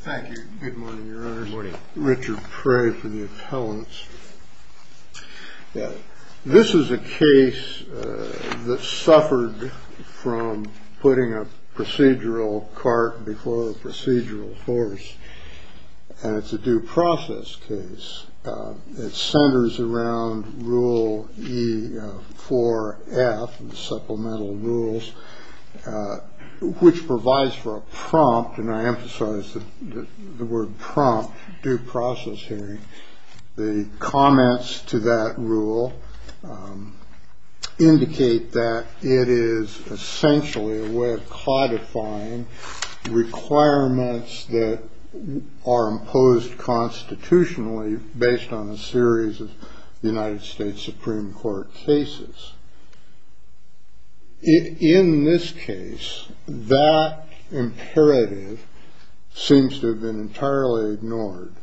Thank you. Good morning, your honors. Richard Pray for the appellants. This is a case that suffered from putting a procedural cart before a procedural horse. And it's a due process case. It centers around Rule E-4-F, the supplemental rules, which provides for a prompt, and I emphasize the word prompt, due process hearing. The comments to that rule indicate that it is essentially a way of codifying requirements that are imposed constitutionally based on a series of United States Supreme Court cases. In this case, that imperative seems to have been entirely ignored.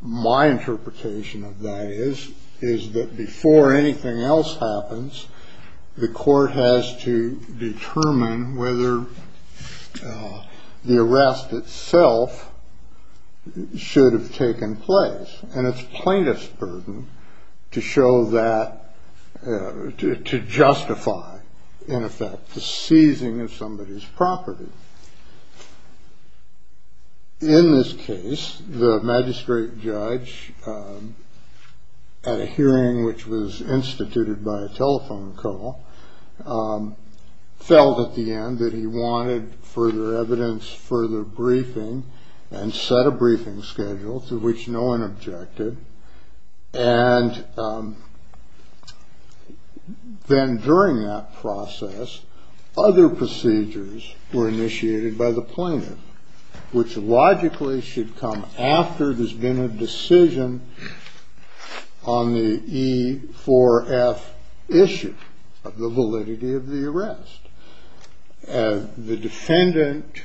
My interpretation of that is that before anything else happens, the court has to determine whether the arrest itself should have taken place. And it's plaintiff's burden to show that, to justify, in effect, the seizing of somebody's property. In this case, the magistrate judge, at a hearing which was instituted by a telephone call, felt at the end that he wanted further evidence, further briefing, and set a briefing schedule to which no one objected. And then during that process, other procedures were initiated by the plaintiff, which logically should come after there's been a decision on the E-4-F issue of the validity of the arrest. The defendant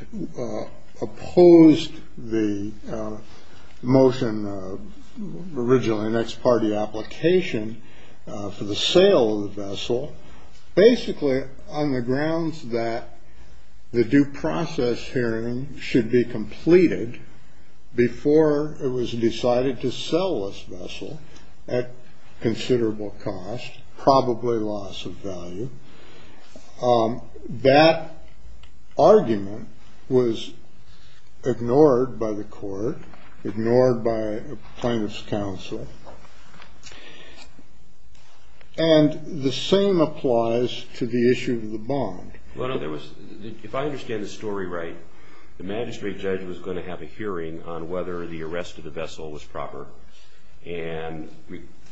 opposed the motion, originally an ex parte application, for the sale of the vessel, basically on the grounds that the due process hearing should be completed before it was decided to sell this vessel at considerable cost, probably loss of value. That argument was ignored by the court, ignored by plaintiff's counsel, and the same applies to the issue of the bond. Well, no, there was – if I understand the story right, the magistrate judge was going to have a hearing on whether the arrest of the vessel was proper, and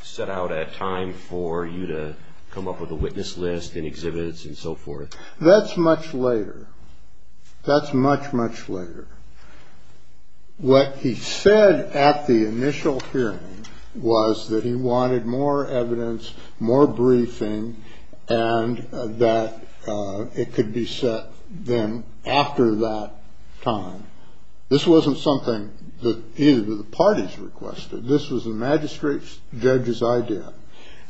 set out a time for you to come up with a witness list and exhibits and so forth. That's much later. That's much, much later. What he said at the initial hearing was that he wanted more evidence, more briefing, and that it could be set then after that time. This wasn't something that either of the parties requested. This was the magistrate judge's idea.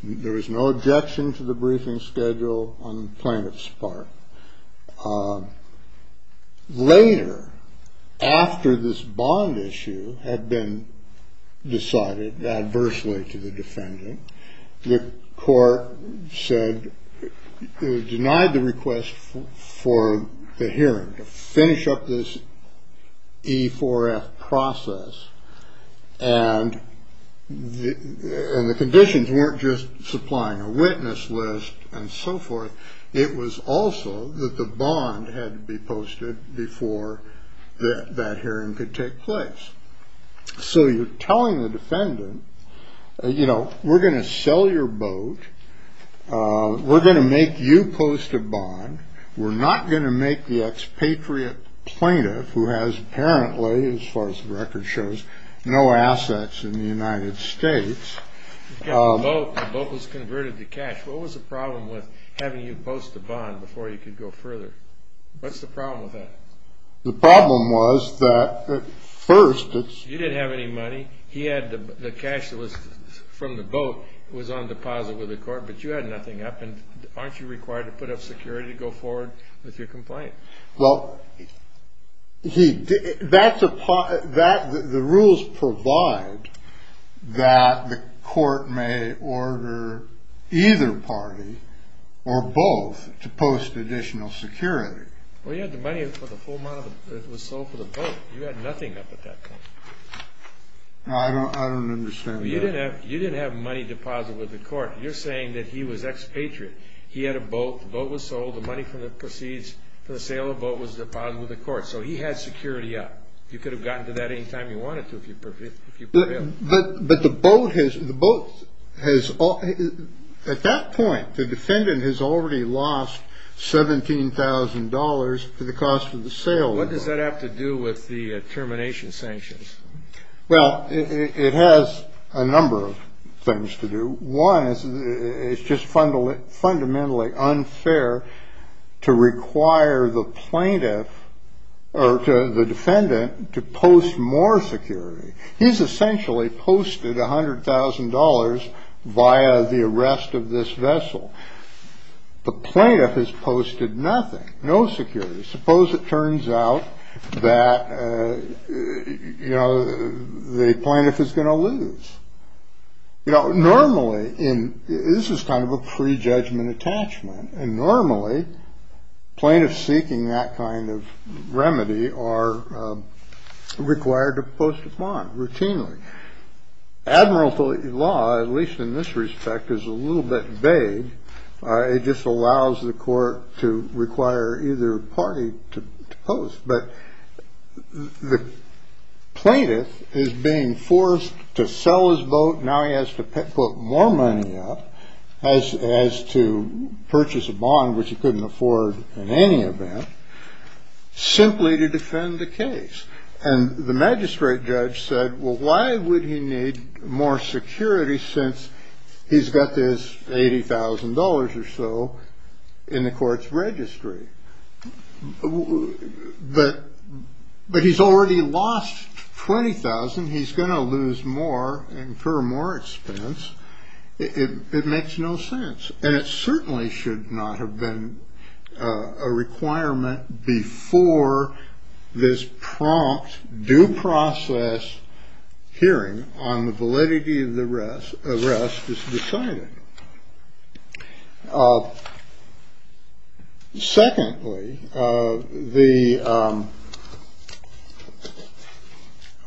There was no objection to the briefing schedule on the plaintiff's part. Later, after this bond issue had been decided adversely to the defendant, the court denied the request for the hearing to finish up this E4F process, and the conditions weren't just supplying a witness list and so forth. It was also that the bond had to be posted before that hearing could take place. So you're telling the defendant, you know, we're going to sell your boat. We're going to make you post a bond. We're not going to make the expatriate plaintiff, who has apparently, as far as the record shows, no assets in the United States. The boat was converted to cash. What was the problem with having you post a bond before you could go further? What's the problem with that? The problem was that first it's… You didn't have any money. He had the cash that was from the boat. It was on deposit with the court, but you had nothing up, and aren't you required to put up security to go forward with your complaint? Well, the rules provide that the court may order either party or both to post additional security. Well, you had the money for the full amount that was sold for the boat. You had nothing up at that point. No, I don't understand that. You didn't have money deposited with the court. You're saying that he was expatriate. He had a boat. The boat was sold. The money for the proceeds for the sale of the boat was deposited with the court. So he had security up. You could have gotten to that any time you wanted to if you prevailed. But the boat has… At that point, the defendant has already lost $17,000 for the cost of the sale. What does that have to do with the termination sanctions? Well, it has a number of things to do. One is it's just fundamentally unfair to require the plaintiff or the defendant to post more security. He's essentially posted $100,000 via the arrest of this vessel. The plaintiff has posted nothing, no security. Suppose it turns out that, you know, the plaintiff is going to lose. You know, normally in this is kind of a prejudgment attachment. And normally plaintiffs seeking that kind of remedy are required to post upon routinely. Admiralty law, at least in this respect, is a little bit vague. It just allows the court to require either party to post. But the plaintiff is being forced to sell his boat. Now he has to put more money up as to purchase a bond, which he couldn't afford in any event, simply to defend the case. And the magistrate judge said, well, why would he need more security since he's got this $80,000 or so in the court's registry? But he's already lost $20,000. He's going to lose more and incur more expense. It makes no sense. And it certainly should not have been a requirement before this prompt due process hearing on the validity of the rest. The rest is decided. Secondly, the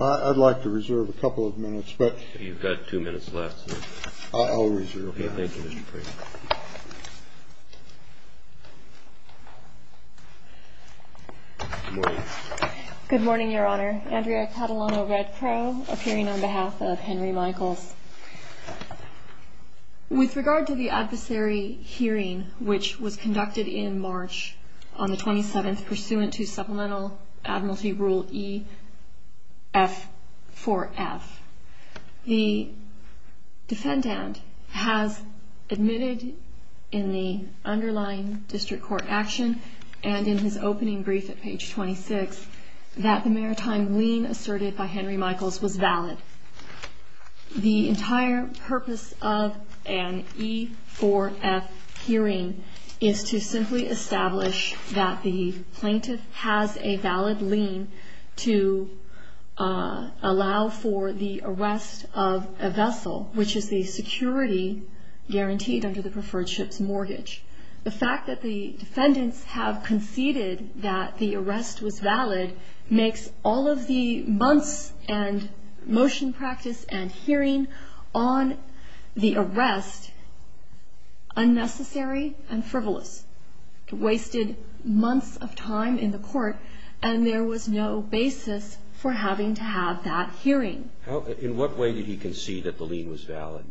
I'd like to reserve a couple of minutes, but you've got two minutes left. I'll reserve. Thank you. Good morning, Your Honor. Andrea Catalano, Red Crow, appearing on behalf of Henry Michaels. With regard to the adversary hearing, which was conducted in March on the 27th, pursuant to Supplemental Admiralty Rule EF4F, the defendant has admitted in the underlying district court action and in his opening brief at page 26, that the maritime lien asserted by Henry Michaels was valid. The entire purpose of an E4F hearing is to simply establish that the plaintiff has a valid lien to allow for the arrest of a vessel, which is the security guaranteed under the preferred ship's mortgage. The fact that the defendants have conceded that the arrest was valid makes all of the months and motion practice and hearing on the arrest unnecessary and frivolous. It wasted months of time in the court, and there was no basis for having to have that hearing. In what way did he concede that the lien was valid?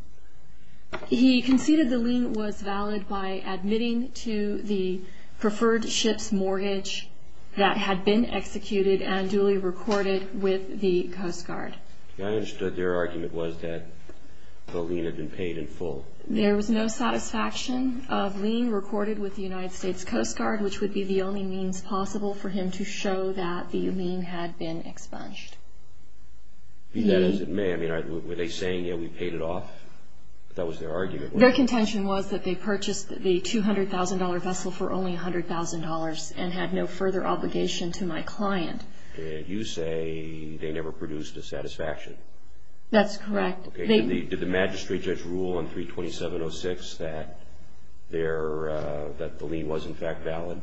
He conceded the lien was valid by admitting to the preferred ship's mortgage that had been executed and duly recorded with the Coast Guard. I understood their argument was that the lien had been paid in full. There was no satisfaction of lien recorded with the United States Coast Guard, which would be the only means possible for him to show that the lien had been expunged. Be that as it may, were they saying, yeah, we paid it off? That was their argument. Their contention was that they purchased the $200,000 vessel for only $100,000 and had no further obligation to my client. You say they never produced a satisfaction. That's correct. Did the magistrate judge rule on 327.06 that the lien was in fact valid?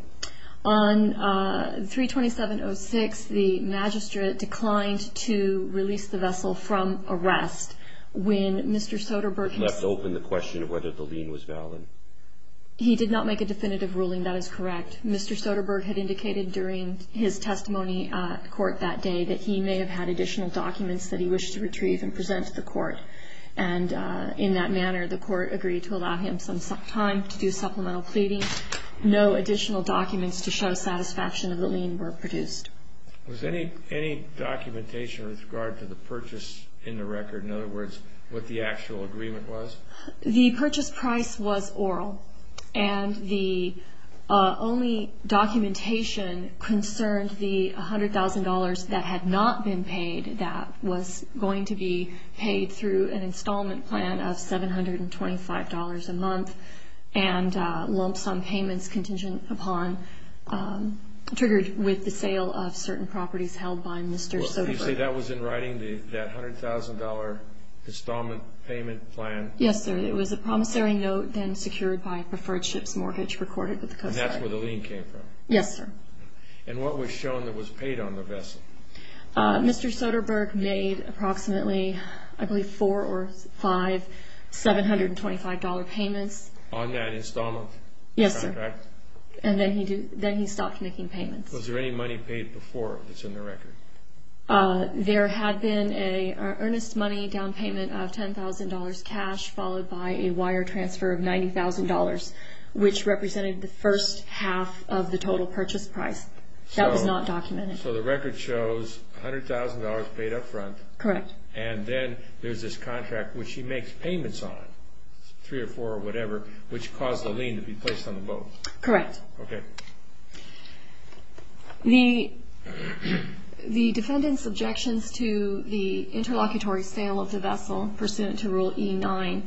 On 327.06, the magistrate declined to release the vessel from arrest. When Mr. Soderbergh left open the question of whether the lien was valid. He did not make a definitive ruling. That is correct. Mr. Soderbergh had indicated during his testimony at court that day that he may have had additional documents that he wished to retrieve and present to the court. And in that manner, the court agreed to allow him some time to do supplemental pleading, and no additional documents to show satisfaction of the lien were produced. Was there any documentation with regard to the purchase in the record? In other words, what the actual agreement was? The purchase price was oral, and the only documentation concerned the $100,000 that had not been paid that was going to be paid through an installment plan of $725 a month and lump sum payments contingent upon, triggered with the sale of certain properties held by Mr. Soderbergh. You say that was in writing, that $100,000 installment payment plan? Yes, sir. It was a promissory note then secured by a preferred ship's mortgage recorded with the Coast Guard. And that's where the lien came from? Yes, sir. And what was shown that was paid on the vessel? Mr. Soderbergh made approximately, I believe, four or five $725 payments. On that installment contract? Yes, sir. And then he stopped making payments. Was there any money paid before that's in the record? There had been an earnest money down payment of $10,000 cash, followed by a wire transfer of $90,000, which represented the first half of the total purchase price. That was not documented. So the record shows $100,000 paid up front. Correct. And then there's this contract which he makes payments on, three or four or whatever, which caused the lien to be placed on the boat. Correct. Okay. The defendant's objections to the interlocutory sale of the vessel pursuant to Rule E9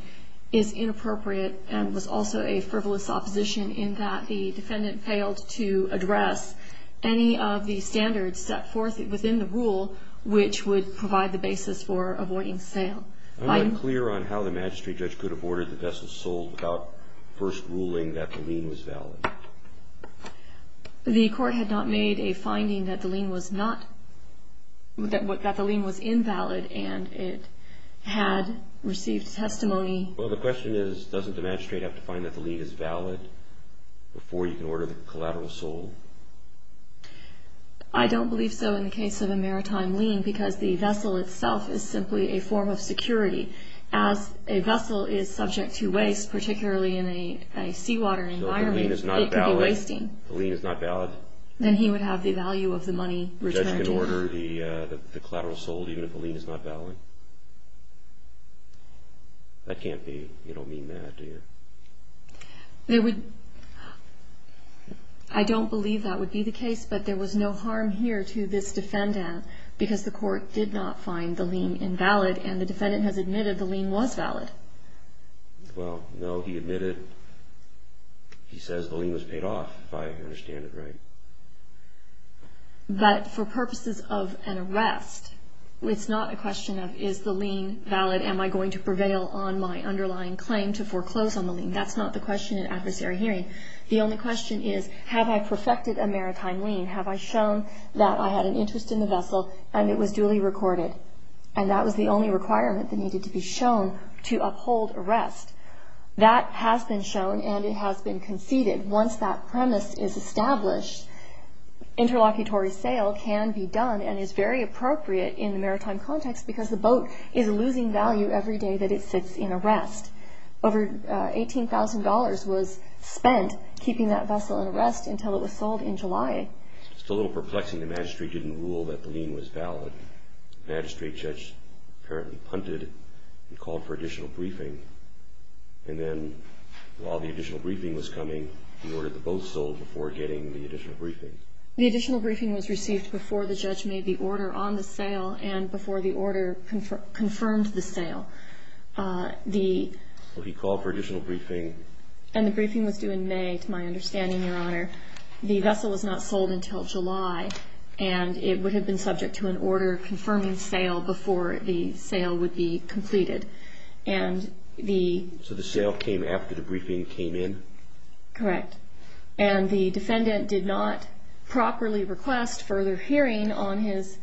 is inappropriate and was also a frivolous opposition in that the defendant failed to address any of the standards set forth within the rule, which would provide the basis for avoiding sale. I'm not clear on how the magistrate judge could have ordered the vessel sold without first ruling that the lien was valid. The court had not made a finding that the lien was not – that the lien was invalid and it had received testimony. Well, the question is, doesn't the magistrate have to find that the lien is valid before you can order the collateral sold? I don't believe so in the case of a maritime lien because the vessel itself is simply a form of security. As a vessel is subject to waste, particularly in a seawater environment, it could be wasting. So if the lien is not valid, the lien is not valid? Then he would have the value of the money returned to him. He would have to order the collateral sold even if the lien is not valid? That can't be – you don't mean that, do you? There would – I don't believe that would be the case, but there was no harm here to this defendant because the court did not find the lien invalid and the defendant has admitted the lien was valid. Well, no, he admitted – he says the lien was paid off, if I understand it right. But for purposes of an arrest, it's not a question of is the lien valid? Am I going to prevail on my underlying claim to foreclose on the lien? That's not the question in adversary hearing. The only question is, have I perfected a maritime lien? Have I shown that I had an interest in the vessel and it was duly recorded? And that was the only requirement that needed to be shown to uphold arrest. That has been shown and it has been conceded. Once that premise is established, interlocutory sale can be done and is very appropriate in the maritime context because the boat is losing value every day that it sits in arrest. Over $18,000 was spent keeping that vessel in arrest until it was sold in July. It's a little perplexing the magistrate didn't rule that the lien was valid. The magistrate judge apparently punted and called for additional briefing. And then while the additional briefing was coming, he ordered the boat sold before getting the additional briefing. The additional briefing was received before the judge made the order on the sale and before the order confirmed the sale. He called for additional briefing. And the briefing was due in May, to my understanding, Your Honor. The vessel was not sold until July and it would have been subject to an order confirming sale before the sale would be completed. So the sale came after the briefing came in? Correct. And the defendant did not properly request further hearing on his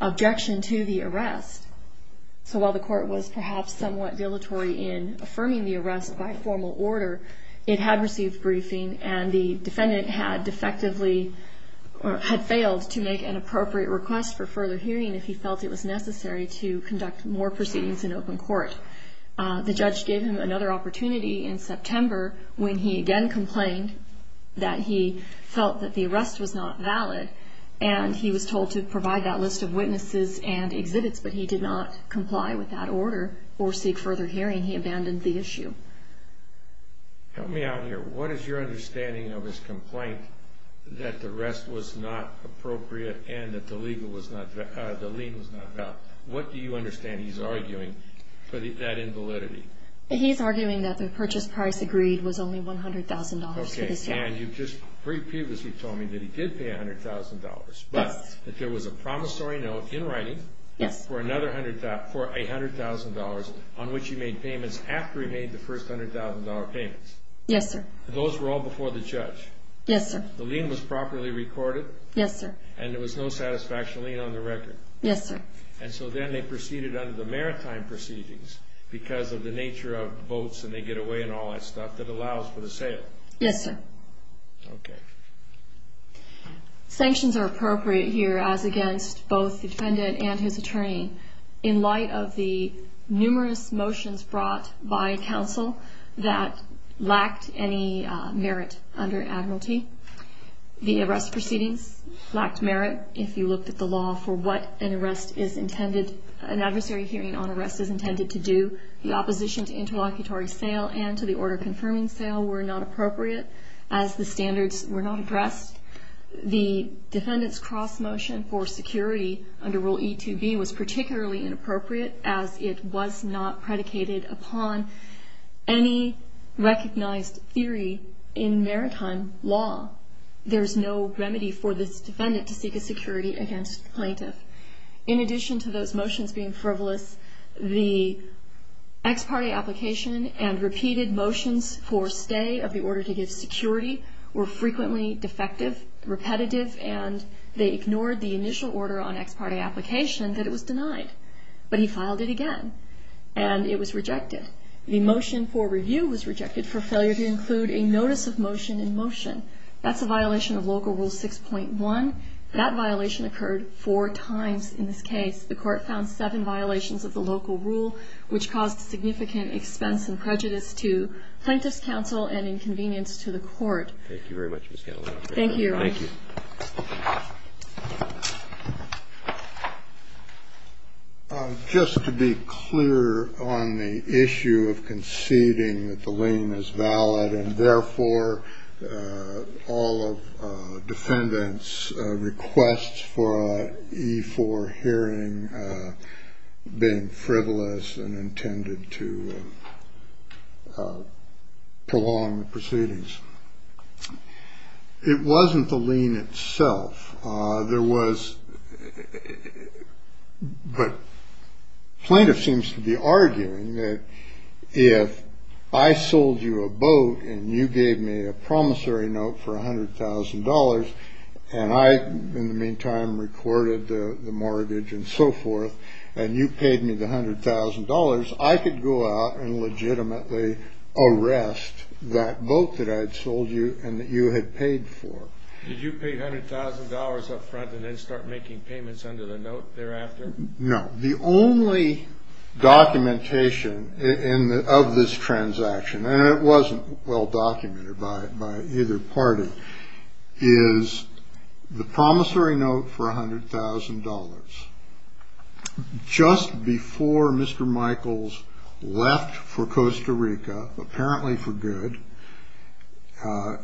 objection to the arrest. So while the court was perhaps somewhat dilatory in affirming the arrest by formal order, it had received briefing and the defendant had failed to make an appropriate request for further hearing if he felt it was necessary to conduct more proceedings in open court. The judge gave him another opportunity in September when he again complained that he felt that the arrest was not valid and he was told to provide that list of witnesses and exhibits, but he did not comply with that order or seek further hearing. He abandoned the issue. Help me out here. What is your understanding of his complaint that the arrest was not appropriate and that the lien was not valid? What do you understand he's arguing for that invalidity? He's arguing that the purchase price agreed was only $100,000 for this year. And you just previously told me that he did pay $100,000, but that there was a promissory note in writing for another $100,000 on which he made payments after he made the first $100,000 payments. Yes, sir. Those were all before the judge? Yes, sir. The lien was properly recorded? Yes, sir. And there was no satisfaction lien on the record? Yes, sir. And so then they proceeded under the maritime proceedings because of the nature of votes and they get away and all that stuff that allows for the sale? Yes, sir. Okay. Sanctions are appropriate here as against both the defendant and his attorney in light of the numerous motions brought by counsel that lacked any merit under admiralty. The arrest proceedings lacked merit if you looked at the law for what an adversary hearing on arrest is intended to do. The opposition to interlocutory sale and to the order confirming sale were not appropriate as the standards were not addressed. The defendant's cross motion for security under Rule E2B was particularly inappropriate as it was not predicated upon any recognized theory in maritime law. There's no remedy for this defendant to seek a security against the plaintiff. In addition to those motions being frivolous, the ex parte application and repeated motions for stay of the order to give security were frequently defective, repetitive, and they ignored the initial order on ex parte application that it was denied. But he filed it again, and it was rejected. The motion for review was rejected for failure to include a notice of motion in motion. That's a violation of Local Rule 6.1. That violation occurred four times in this case. The court found seven violations of the local rule, which caused significant expense and prejudice to plaintiff's counsel and inconvenience to the court. Thank you very much, Ms. Callahan. Thank you. Thank you. Just to be clear on the issue of conceding that the lien is valid and therefore all of defendants' requests for an E4 hearing being frivolous and intended to prolong the proceedings. It wasn't the lien itself. There was, but plaintiff seems to be arguing that if I sold you a boat and you gave me a promissory note for $100,000 and I in the meantime recorded the mortgage and so forth and you paid me the $100,000, I could go out and legitimately arrest that boat that I had sold you and that you had paid for. Did you pay $100,000 up front and then start making payments under the note thereafter? No. The only documentation of this transaction, and it wasn't well documented by either party, is the promissory note for $100,000. Just before Mr. Michaels left for Costa Rica, apparently for good,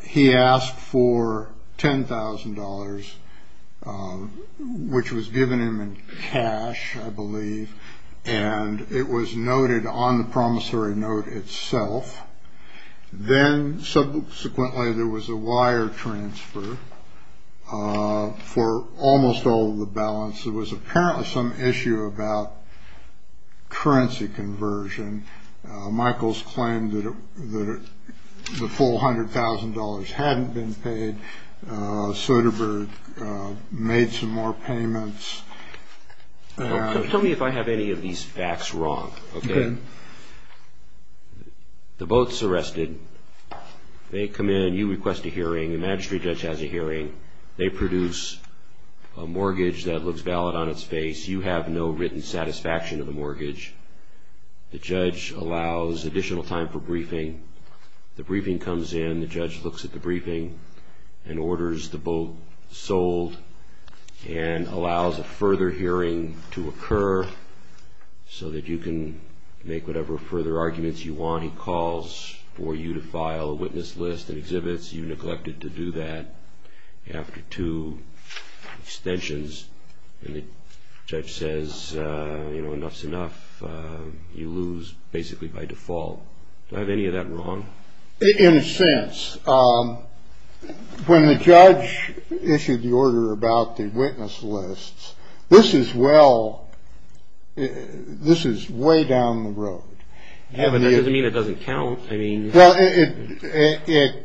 he asked for $10,000, which was given him in cash, I believe, and it was noted on the promissory note itself. Then subsequently there was a wire transfer for almost all of the balance. There was apparently some issue about currency conversion. Michaels claimed that the full $100,000 hadn't been paid. Soderbergh made some more payments. Tell me if I have any of these facts wrong. Okay. The boat's arrested. They come in. You request a hearing. The magistrate judge has a hearing. They produce a mortgage that looks valid on its face. You have no written satisfaction of the mortgage. The judge allows additional time for briefing. The briefing comes in. The judge looks at the briefing and orders the boat sold and allows a further hearing to occur so that you can make whatever further arguments you want. He calls for you to file a witness list and exhibits. You neglected to do that after two extensions, and the judge says, you know, enough's enough. You lose basically by default. Do I have any of that wrong? In a sense. When the judge issued the order about the witness lists, this is well. This is way down the road. I mean, it doesn't count. I mean, the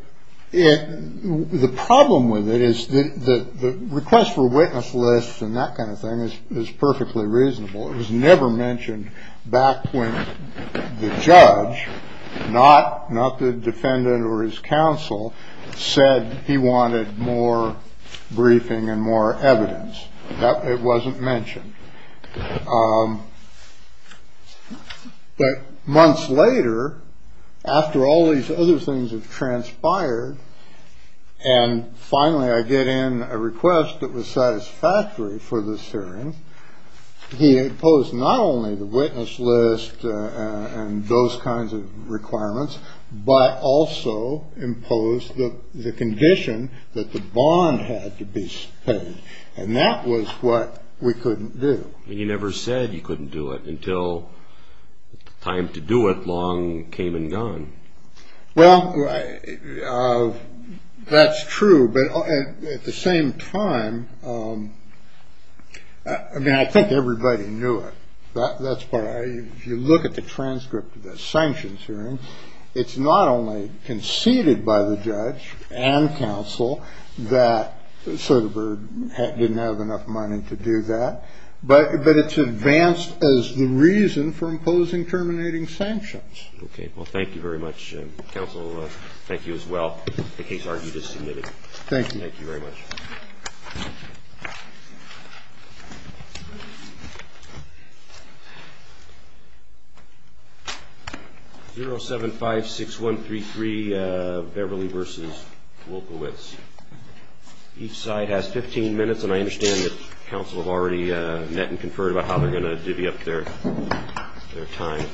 problem with it is that the request for witness lists and that kind of thing is perfectly reasonable. It was never mentioned back when the judge, not not the defendant or his counsel, said he wanted more briefing and more evidence. It wasn't mentioned. But months later, after all these other things have transpired, and finally I get in a request that was satisfactory for this hearing. He imposed not only the witness list and those kinds of requirements, but also imposed the condition that the bond had to be paid. And that was what we couldn't do. And you never said you couldn't do it until time to do it long came and gone. Well, that's true. But at the same time, I mean, I think everybody knew it. That's why you look at the transcript of the sanctions hearing. It's not only conceded by the judge and counsel that Soderbergh didn't have enough money to do that, but but it's advanced as the reason for imposing terminating sanctions. OK. Well, thank you very much. Counsel. Thank you as well. The case argued is significant. Thank you. Thank you very much. 0756133 Beverly versus Wilkowitz. Each side has 15 minutes, and I understand that counsel have already met and conferred about how they're going to divvy up their time. I understand that correctly.